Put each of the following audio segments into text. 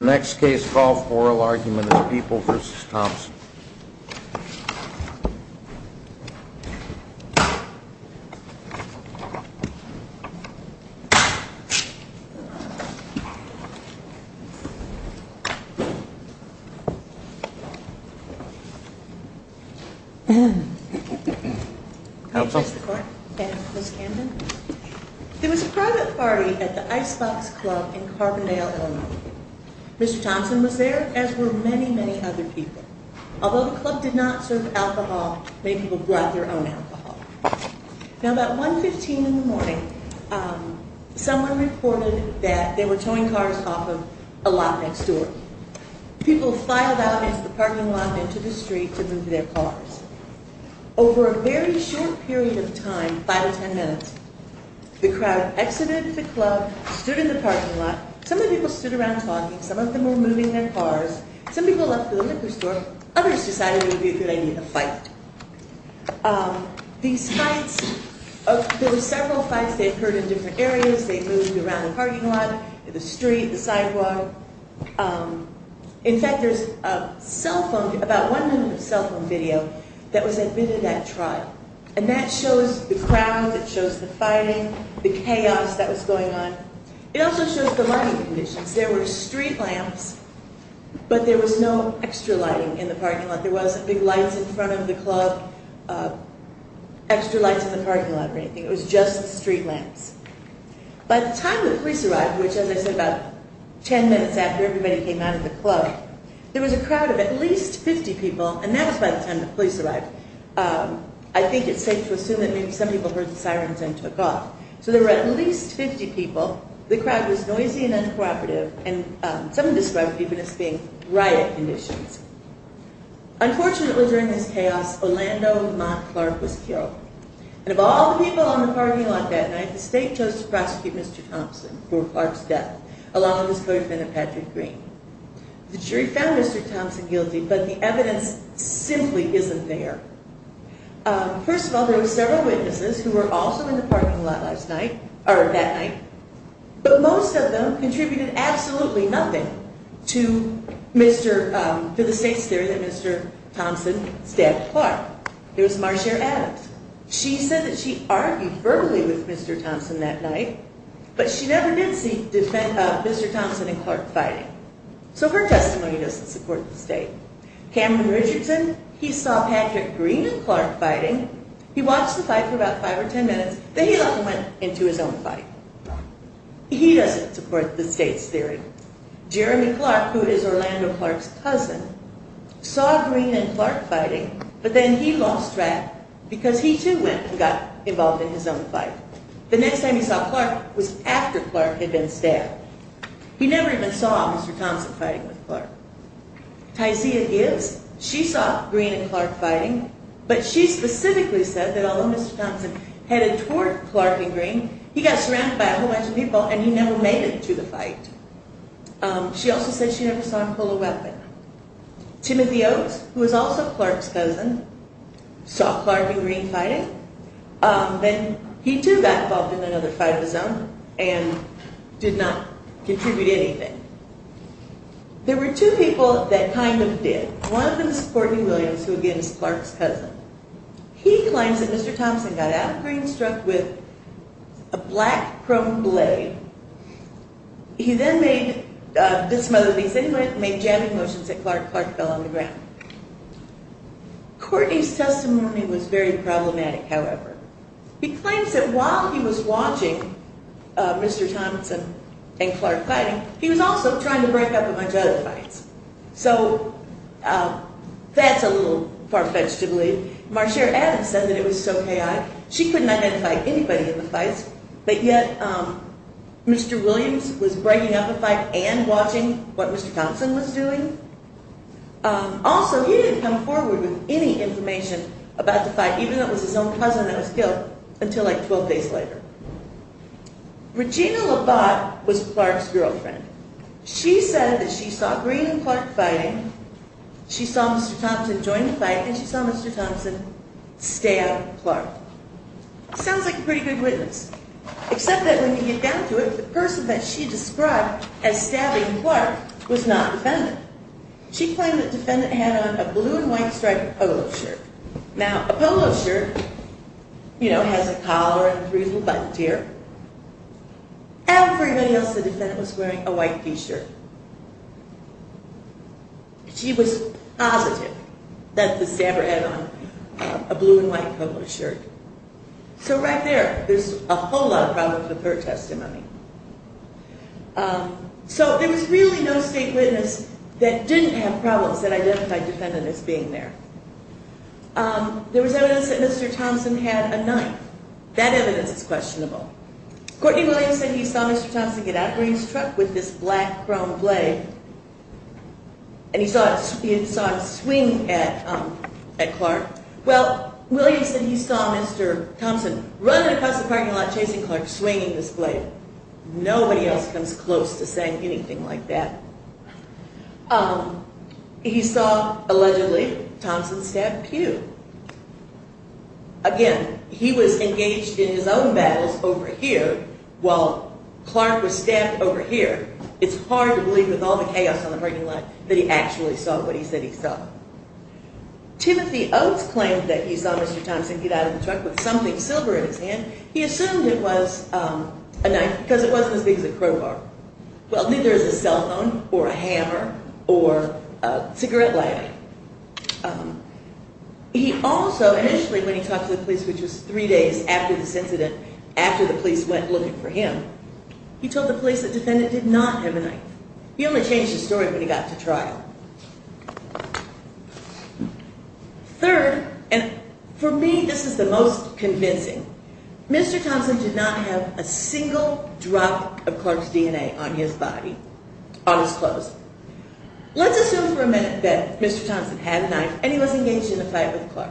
Next case, Golf Oral Argument, People v. Thompson There was a private party at the Icebox Club in Carbondale, IL. Mr. Thompson was there as were many, many other people. Although the club did not serve alcohol, many people brought their own alcohol. Now, about 1.15 in the morning, someone reported that they were towing cars off of a lot next door. People filed out into the parking lot and into the street to move their cars. Over a very short period of time, five or ten minutes, the crowd exited the club, stood in the parking lot. Some of the people stood around talking. Some of them were moving their cars. Some people left for the liquor store. Others decided it would be a good idea to fight. These fights, there were several fights that occurred in different areas. They moved around the parking lot, the street, the sidewalk. In fact, there's a cell phone, about one minute of cell phone video that was admitted at trial. And that shows the crowds. It shows the fighting, the chaos that was going on. It also shows the lighting conditions. There were street lamps, but there was no extra lighting in the parking lot. There wasn't big lights in front of the club, extra lights in the parking lot or anything. It was just street lamps. By the time the police arrived, which, as I said, about ten minutes after everybody came out of the club, there was a crowd of at least 50 people, and that was by the time the police arrived. I think it's safe to assume that maybe some people heard the sirens and took off. So there were at least 50 people. The crowd was noisy and uncooperative. And some described it even as being riot conditions. Unfortunately, during this chaos, Orlando Montclair was killed. And of all the people in the parking lot that night, the state chose to prosecute Mr. Thompson for Clark's death, along with his co-defendant, Patrick Green. The jury found Mr. Thompson guilty, but the evidence simply isn't there. First of all, there were several witnesses who were also in the parking lot that night, but most of them contributed absolutely nothing to the state's theory that Mr. Thompson stabbed Clark. It was Marcia Adams. She said that she argued verbally with Mr. Thompson that night, but she never did see Mr. Thompson and Clark fighting. So her testimony doesn't support the state. Cameron Richardson, he saw Patrick Green and Clark fighting. He watched the fight for about five or ten minutes, then he left and went into his own fight. He doesn't support the state's theory. Jeremy Clark, who is Orlando Clark's cousin, saw Green and Clark fighting, but then he lost track because he too went and got involved in his own fight. The next time he saw Clark was after Clark had been stabbed. He never even saw Mr. Thompson fighting with Clark. Tysia Gibbs, she saw Green and Clark fighting, but she specifically said that although Mr. Thompson headed toward Clark and Green, he got surrounded by a whole bunch of people and he never made it to the fight. She also said she never saw him pull a weapon. Timothy Oakes, who is also Clark's cousin, saw Clark and Green fighting. Then he too got involved in another fight of his own and did not contribute anything. There were two people that kind of did. One of them is Courtney Williams, who again is Clark's cousin. He claims that Mr. Thompson got out of Green struck with a black chrome blade. He then did some other things. He made jamming motions and Clark fell on the ground. Courtney's testimony was very problematic, however. He claims that while he was watching Mr. Thompson and Clark fighting, he was also trying to break up a bunch of other fights. So that's a little far-fetched to believe. Marcia Adams said that it was so K.I. She couldn't identify anybody in the fights, but yet Mr. Williams was breaking up a fight and watching what Mr. Thompson was doing. Also, he didn't come forward with any information about the fight, even though it was his own cousin that was killed, until like 12 days later. Regina LaBotte was Clark's girlfriend. She said that she saw Green and Clark fighting. She saw Mr. Thompson join the fight, and she saw Mr. Thompson stab Clark. Sounds like a pretty good witness, except that when you get down to it, the person that she described as stabbing Clark was not a defendant. She claimed that the defendant had on a blue and white striped polo shirt. Now, a polo shirt has a collar and three little buttons here. Everybody else in the defendant was wearing a white t-shirt. She was positive that the stabber had on a blue and white polo shirt. So right there, there's a whole lot of problems with her testimony. So there was really no state witness that didn't have problems that identified the defendant as being there. There was evidence that Mr. Thompson had a knife. That evidence is questionable. Courtney Williams said he saw Mr. Thompson get out of Green's truck with this black-brown blade, and he saw him swing at Clark. Well, Williams said he saw Mr. Thompson running across the parking lot chasing Clark, swinging this blade. Nobody else comes close to saying anything like that. He saw, allegedly, Thompson stab Pew. Again, he was engaged in his own battles over here while Clark was stabbed over here. It's hard to believe with all the chaos on the parking lot that he actually saw what he said he saw. Timothy Oates claimed that he saw Mr. Thompson get out of the truck with something silver in his hand. He assumed it was a knife because it wasn't as big as a crowbar. Well, neither is a cell phone or a hammer or a cigarette lighter. He also initially, when he talked to the police, which was three days after this incident, after the police went looking for him, he told the police the defendant did not have a knife. He only changed his story when he got to trial. Third, and for me this is the most convincing, Mr. Thompson did not have a single drop of Clark's DNA on his body, on his clothes. Let's assume for a minute that Mr. Thompson had a knife and he was engaged in a fight with Clark.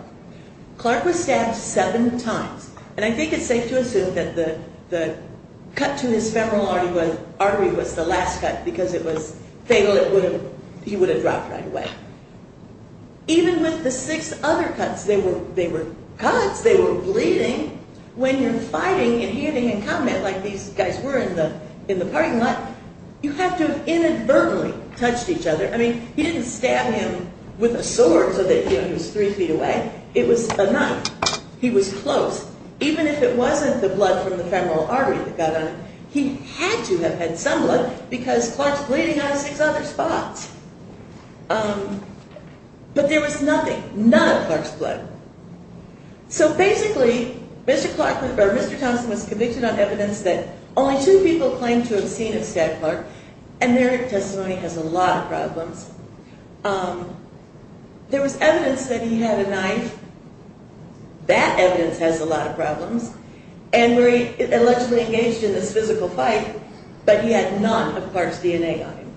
Clark was stabbed seven times, and I think it's safe to assume that the cut to his femoral artery was the last cut because it was fatal. He would have dropped right away. Even with the six other cuts, they were cuts, they were bleeding. When you're fighting and handing in comment like these guys were in the parking lot, you have to have inadvertently touched each other. I mean, he didn't stab him with a sword so that he was three feet away. It was a knife. He was close. Even if it wasn't the blood from the femoral artery that got on him, he had to have had some blood because Clark's bleeding out of six other spots. But there was nothing, none of Clark's blood. So basically, Mr. Thompson was convicted on evidence that only two people claimed to have seen a stabbed Clark, and their testimony has a lot of problems. There was evidence that he had a knife. That evidence has a lot of problems, and where he allegedly engaged in this physical fight, but he had none of Clark's DNA on him.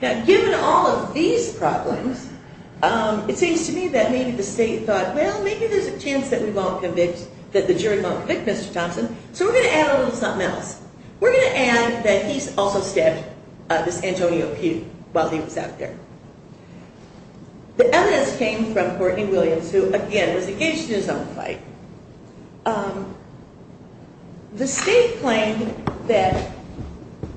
Now, given all of these problems, it seems to me that maybe the state thought, well, maybe there's a chance that we won't convict, that the jury won't convict Mr. Thompson, so we're going to add a little something else. We're going to add that he also stabbed this Antonio Pugh while he was out there. The evidence came from Courtney Williams, who, again, was engaged in his own fight. The state claimed that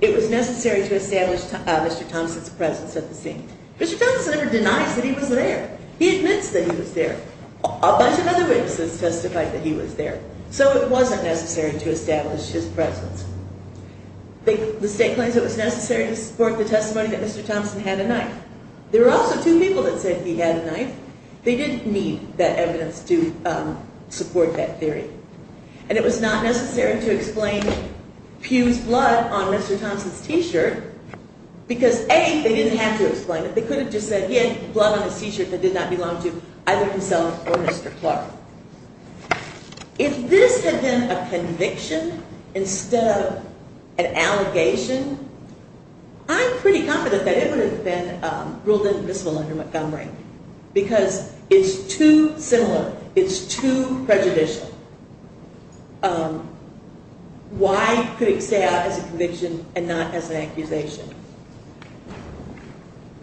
it was necessary to establish Mr. Thompson's presence at the scene. Mr. Thompson never denies that he was there. He admits that he was there. A bunch of other witnesses testified that he was there. So it wasn't necessary to establish his presence. The state claims it was necessary to support the testimony that Mr. Thompson had a knife. There were also two people that said he had a knife. They didn't need that evidence to support that theory. And it was not necessary to explain Pugh's blood on Mr. Thompson's T-shirt because, A, they didn't have to explain it. They could have just said he had blood on his T-shirt that did not belong to either himself or Mr. Clark. If this had been a conviction instead of an allegation, I'm pretty confident that it would have been ruled invisible under Montgomery because it's too similar. It's too prejudicial. Why could it stay out as a conviction and not as an accusation?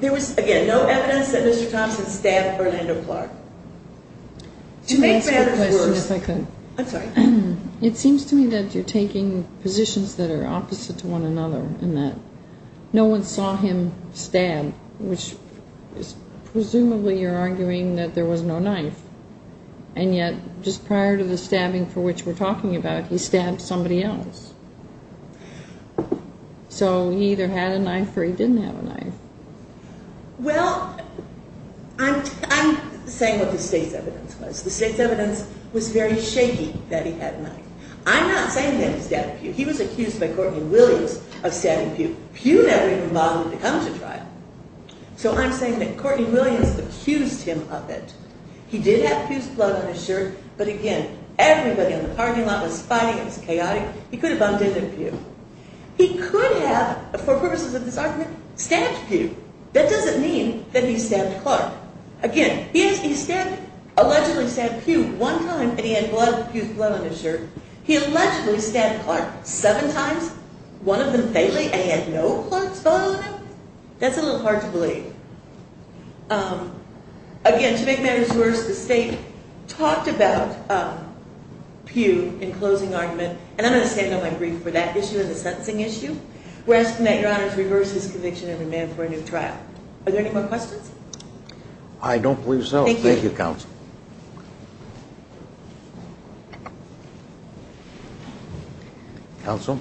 There was, again, no evidence that Mr. Thompson stabbed Orlando Clark. To make matters worse, it seems to me that you're taking positions that are opposite to one another in that no one saw him stab, which is presumably you're arguing that there was no knife, and yet just prior to the stabbing for which we're talking about, he stabbed somebody else. So he either had a knife or he didn't have a knife. Well, I'm saying what the state's evidence was. The state's evidence was very shaky that he had a knife. I'm not saying that he stabbed Pew. He was accused by Courtney Williams of stabbing Pew. Pew never even bothered to come to trial, so I'm saying that Courtney Williams accused him of it. He did have Pew's blood on his shirt, but again, everybody in the parking lot was fighting. It was chaotic. He could have bumped into Pew. He could have, for purposes of this argument, stabbed Pew. That doesn't mean that he stabbed Clark. Again, he allegedly stabbed Pew one time, and he had Pew's blood on his shirt. He allegedly stabbed Clark seven times, one of them faintly, and he had no Clark's photo in him. That's a little hard to believe. Again, to make matters worse, the state talked about Pew in closing argument, and I'm going to stand on my brief for that issue and the sentencing issue. We're asking that Your Honor reverse his conviction and demand for a new trial. Are there any more questions? I don't believe so. Thank you, counsel. Counsel?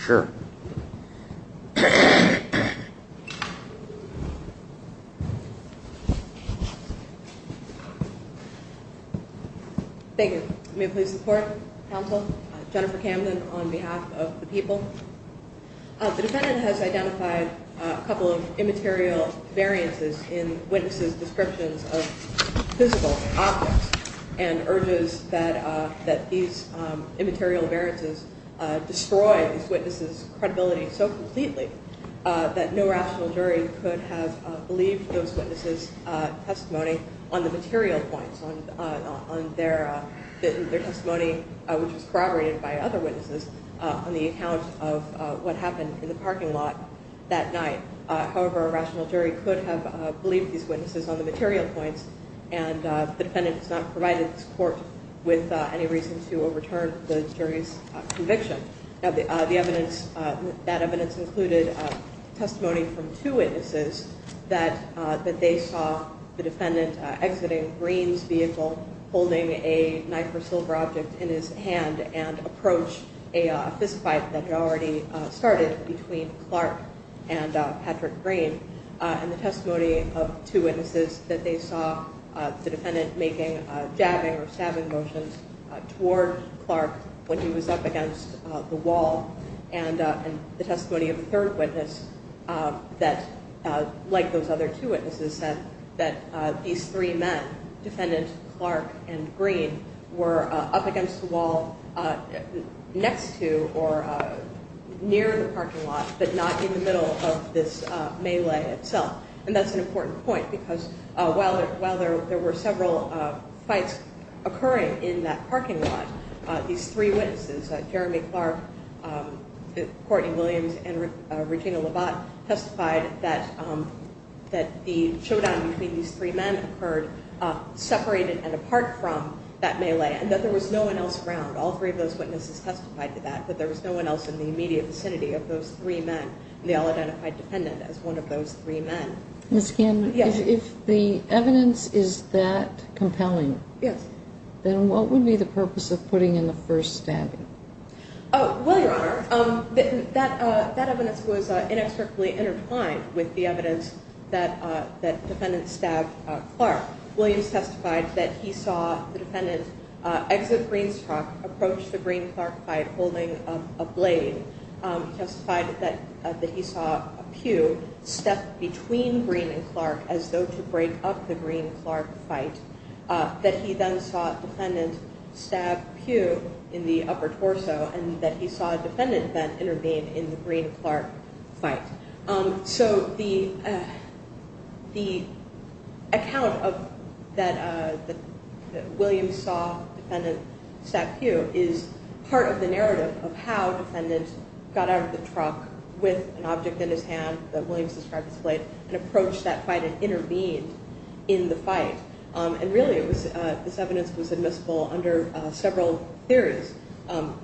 Sure. Thank you. May I please have support? Counsel? Jennifer Camden on behalf of the people. The defendant has identified a couple of immaterial variances in witnesses' descriptions of physical objects and urges that these immaterial variances destroy these witnesses' credibility so completely that no rational jury could have believed those witnesses' testimony on the material points, on their testimony, which was corroborated by other witnesses, on the account of what happened in the parking lot that night. However, a rational jury could have believed these witnesses on the material points, and the defendant has not provided this court with any reason to overturn the jury's conviction. That evidence included testimony from two witnesses that they saw the defendant exiting Green's vehicle holding a knife or silver object in his hand and approach a fistfight that had already started between Clark and Patrick Green, and the testimony of two witnesses that they saw the defendant making jabbing or stabbing motions toward Clark when he was up against the wall, and the testimony of a third witness that, like those other two witnesses, said that these three men, defendant Clark and Green, were up against the wall next to or near the parking lot but not in the middle of this melee itself. And that's an important point because while there were several fights occurring in that parking lot, these three witnesses, Jeremy Clark, Courtney Williams, and Regina Labatt, testified that the showdown between these three men occurred separated and apart from that melee and that there was no one else around. All three of those witnesses testified to that, but there was no one else in the immediate vicinity of those three men, and they all identified the defendant as one of those three men. Ms. Kahn, if the evidence is that compelling, then what would be the purpose of putting in the first stabbing? Well, Your Honor, that evidence was inexplicably intertwined with the evidence that the defendant stabbed Clark. Williams testified that he saw the defendant exit Green's truck, approach the Green-Clark fight holding a blade. He testified that he saw a pew step between Green and Clark as though to break up the Green-Clark fight, that he then saw defendant stab pew in the upper torso, and that he saw a defendant then intervene in the Green-Clark fight. So the account that Williams saw defendant stab pew is part of the narrative of how defendant got out of the truck with an object in his hand that Williams described as a blade and approached that fight and intervened in the fight. And really, this evidence was admissible under several theories,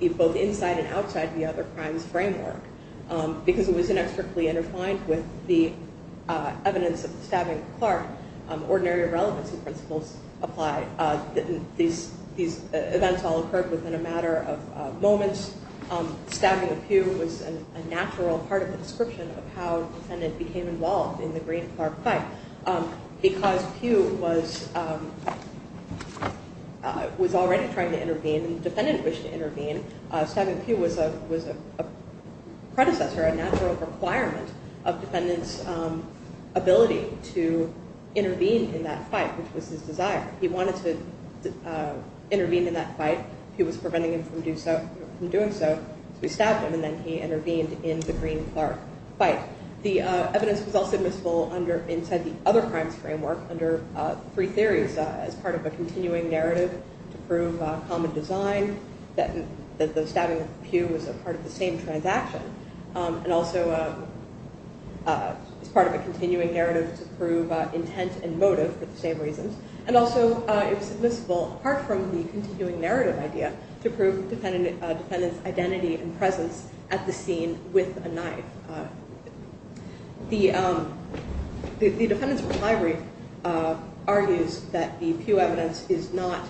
both inside and outside the other crimes framework, because it was inexplicably intertwined with the evidence of the stabbing of Clark. Ordinary irrelevancy principles apply. These events all occurred within a matter of moments. Stabbing a pew was a natural part of the description of how defendant became involved in the Green-Clark fight, because pew was already trying to intervene and the defendant wished to intervene. Stabbing pew was a predecessor, a natural requirement of defendant's ability to intervene in that fight, which was his desire. He wanted to intervene in that fight. Pew was preventing him from doing so, so he stabbed him, and then he intervened in the Green-Clark fight. The evidence was also admissible inside the other crimes framework under three theories, as part of a continuing narrative to prove common design, that the stabbing of the pew was part of the same transaction, and also as part of a continuing narrative to prove intent and motive for the same reasons, and also it was admissible, apart from the continuing narrative idea, to prove defendant's identity and presence at the scene with a knife. The defendant's reply brief argues that the pew evidence is not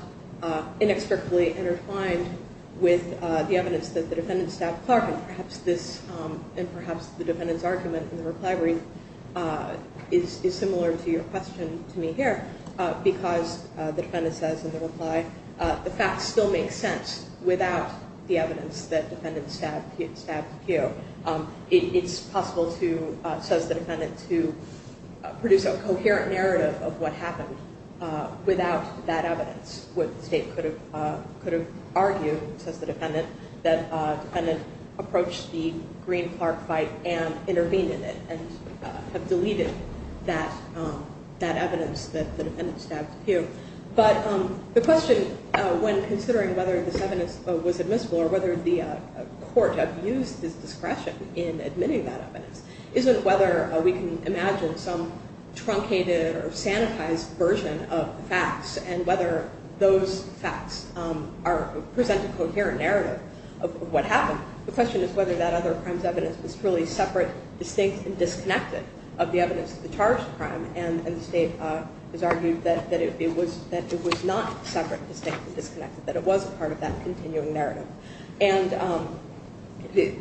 inextricably intertwined with the evidence that the defendant stabbed Clark, and perhaps the defendant's argument in the reply brief is similar to your question to me here, because the defendant says in the reply, the fact still makes sense without the evidence that the defendant stabbed Pew. It's possible, says the defendant, to produce a coherent narrative of what happened without that evidence. What the state could have argued, says the defendant, that the defendant approached the Green-Clark fight and intervened in it, and have deleted that evidence that the defendant stabbed Pew. But the question, when considering whether this evidence was admissible, or whether the court have used this discretion in admitting that evidence, isn't whether we can imagine some truncated or sanitized version of the facts, and whether those facts present a coherent narrative of what happened. The question is whether that other crime's evidence was truly separate, distinct, and disconnected of the evidence of the charged crime, and the state has argued that it was not separate, distinct, and disconnected, that it was a part of that continuing narrative. And the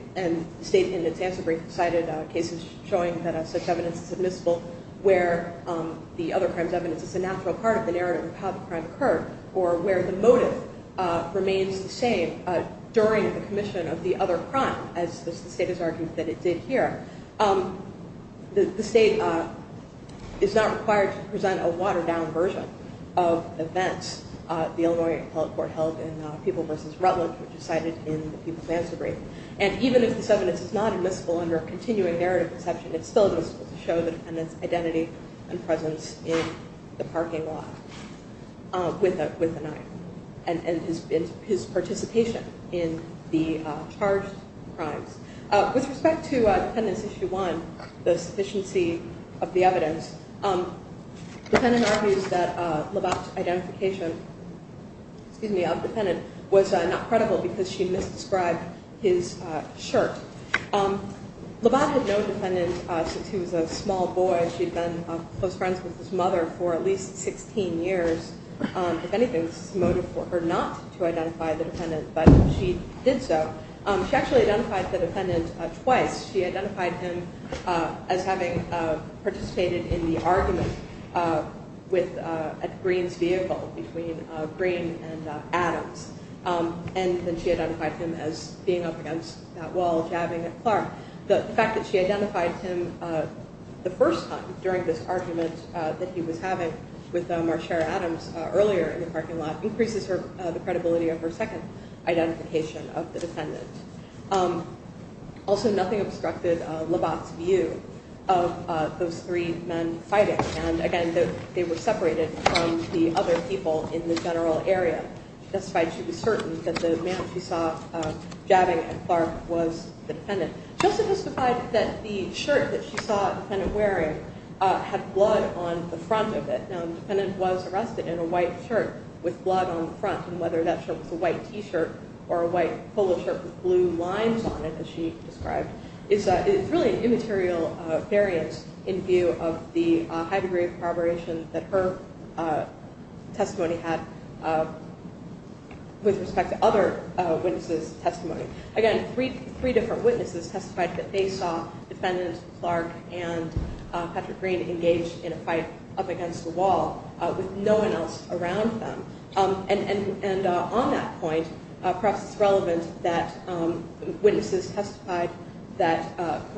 state, in its answer brief, cited cases showing that such evidence is admissible, where the other crime's evidence is a natural part of the narrative of how the crime occurred, or where the motive remains the same during the commission of the other crime, as the state has argued that it did here. The state is not required to present a watered-down version of events the Illinois Appellate Court held in People v. Rutland, which is cited in the People's answer brief. And even if this evidence is not admissible under a continuing narrative conception, it's still admissible to show the defendant's identity and presence in the parking lot with a knife, and his participation in the charged crimes. With respect to Defendant's Issue 1, the sufficiency of the evidence, the defendant argues that Labatt's identification of the defendant was not credible because she misdescribed his shirt. Labatt had known the defendant since he was a small boy. She'd been close friends with his mother for at least 16 years. If anything, this is a motive for her not to identify the defendant, but she did so. She actually identified the defendant twice. She identified him as having participated in the argument at Greene's vehicle between Greene and Adams, and then she identified him as being up against that wall, jabbing at Clark. The fact that she identified him the first time during this argument that he was having with Marshara Adams earlier in the parking lot increases the credibility of her second identification of the defendant. Also, nothing obstructed Labatt's view of those three men fighting, and again, they were separated from the other people in the general area. She testified she was certain that the man she saw jabbing at Clark was the defendant. She also testified that the shirt that she saw the defendant wearing had blood on the front of it. The defendant was arrested in a white shirt with blood on the front, and whether that shirt was a white T-shirt or a white polo shirt with blue lines on it, as she described, it's really an immaterial variance in view of the high degree of corroboration that her testimony had with respect to other witnesses' testimony. Again, three different witnesses testified that they saw defendant Clark and Patrick Greene engage in a fight up against a wall with no one else around them. And on that point, perhaps it's relevant that witnesses testified that of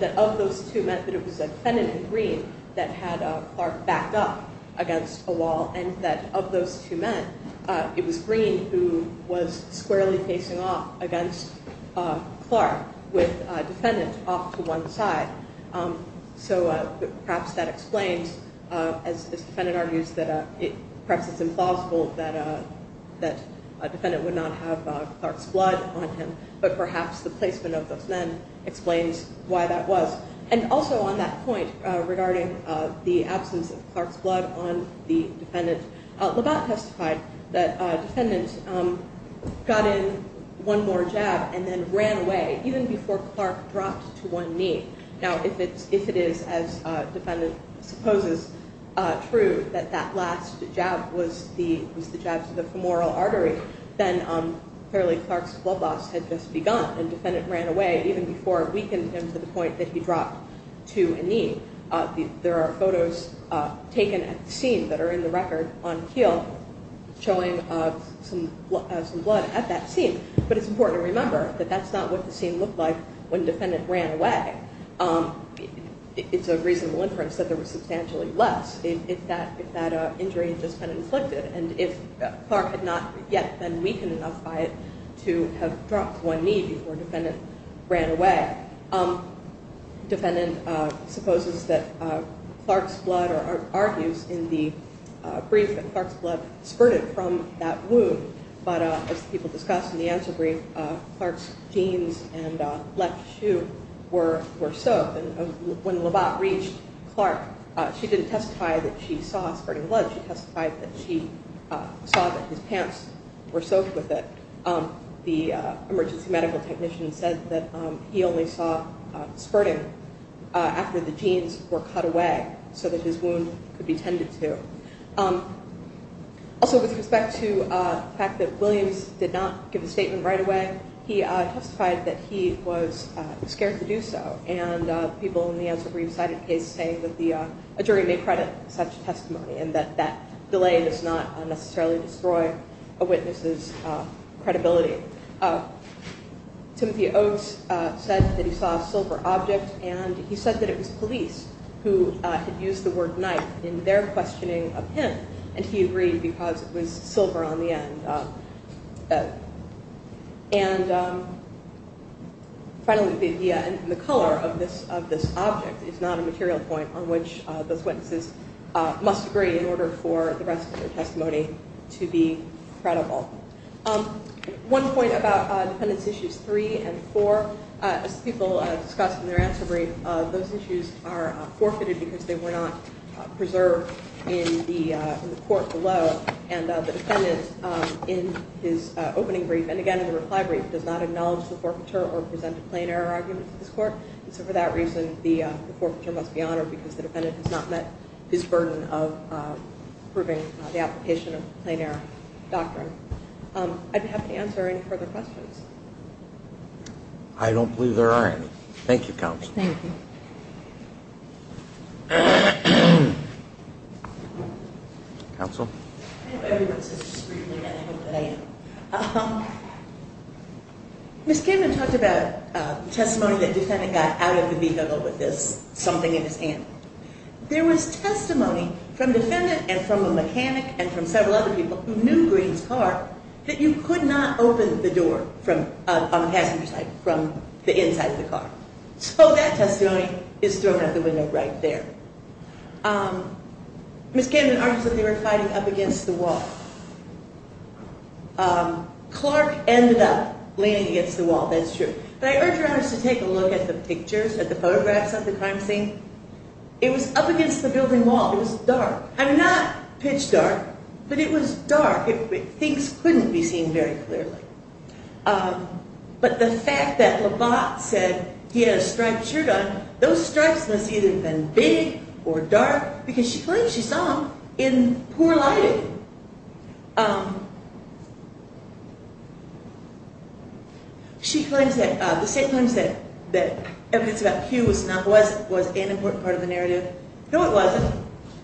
those two men, that it was defendant Greene that had Clark backed up against a wall, and that of those two men, it was Greene who was squarely facing off against Clark with defendant off to one side. So perhaps that explains, as defendant argues, that perhaps it's implausible that a defendant would not have Clark's blood on him, but perhaps the placement of those men explains why that was. And also on that point regarding the absence of Clark's blood on the defendant, Labatt testified that defendant got in one more jab and then ran away, even before Clark dropped to one knee. Now, if it is, as defendant supposes, true that that last jab was the jab to the femoral artery, then clearly Clark's blood loss had just begun and defendant ran away even before it weakened him to the point that he dropped to a knee. There are photos taken at the scene that are in the record on the heel showing some blood at that scene. But it's important to remember that that's not what the scene looked like when defendant ran away. It's a reasonable inference that there was substantially less if that injury had just been inflicted. And if Clark had not yet been weakened enough by it to have dropped to one knee before defendant ran away. Defendant supposes that Clark's blood or argues in the brief that Clark's blood spurted from that wound. But as people discussed in the answer brief, Clark's jeans and left shoe were soaked. When Labatt reached Clark, she didn't testify that she saw spurting blood. She testified that she saw that his pants were soaked with it. The emergency medical technician said that he only saw spurting after the jeans were cut away so that his wound could be tended to. Also, with respect to the fact that Williams did not give a statement right away, he testified that he was scared to do so. And people in the answer brief cited case say that a jury may credit such testimony. And that that delay does not necessarily destroy a witness's credibility. Timothy Oakes said that he saw a silver object. And he said that it was police who had used the word knife in their questioning of him. And he agreed because it was silver on the end. And finally, the idea and the color of this object is not a material point on which those witnesses must agree in order for the rest of their testimony to be credible. One point about defendants issues three and four. As people discussed in their answer brief, those issues are forfeited because they were not preserved in the court below. And the defendant, in his opening brief and again in the reply brief, does not acknowledge the forfeiture or present a plain error argument to this court. And so for that reason, the forfeiture must be honored because the defendant has not met his burden of proving the application of the plain error doctrine. I'd be happy to answer any further questions. I don't believe there are any. Thank you, Counsel. Thank you. Counsel? I know everyone says discreetly, and I hope that I am. Ms. Kamen talked about testimony that defendant got out of the vehicle with this something in his hand. There was testimony from defendant and from a mechanic and from several other people who knew Green's car that you could not open the door from a passenger side, from the inside of the car. So that testimony is thrown out the window right there. Ms. Kamen argues that they were fighting up against the wall. Clark ended up leaning against the wall. That's true. But I urge your honors to take a look at the pictures, at the photographs of the crime scene. It was up against the building wall. It was dark. I'm not pitch dark, but it was dark. Things couldn't be seen very clearly. But the fact that Labatt said he had a striped shirt on, those stripes must have either been big or dark because she claims she saw him in poor lighting. She claims that the state claims that evidence about Pugh was an important part of the narrative. No, it wasn't.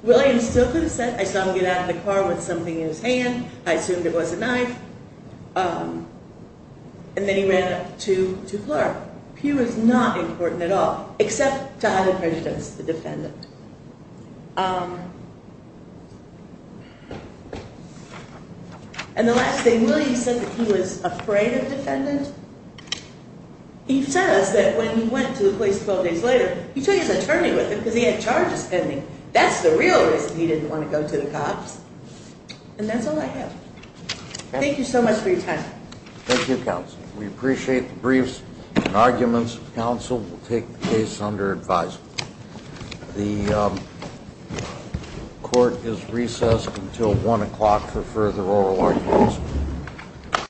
Williams still could have said, I saw him get out of the car with something in his hand. I assumed it was a knife. And then he ran up to Clark. Pugh is not important at all, except to either prejudice the defendant. And the last thing, Williams said that he was afraid of defendants. He says that when he went to the police 12 days later, he took his attorney with him because he had charges pending. That's the real reason he didn't want to go to the cops. And that's all I have. Thank you so much for your time. Thank you, Counsel. We appreciate the briefs and arguments. Counsel will take the case under advisory. The court is recessed until 1 o'clock for further oral arguments.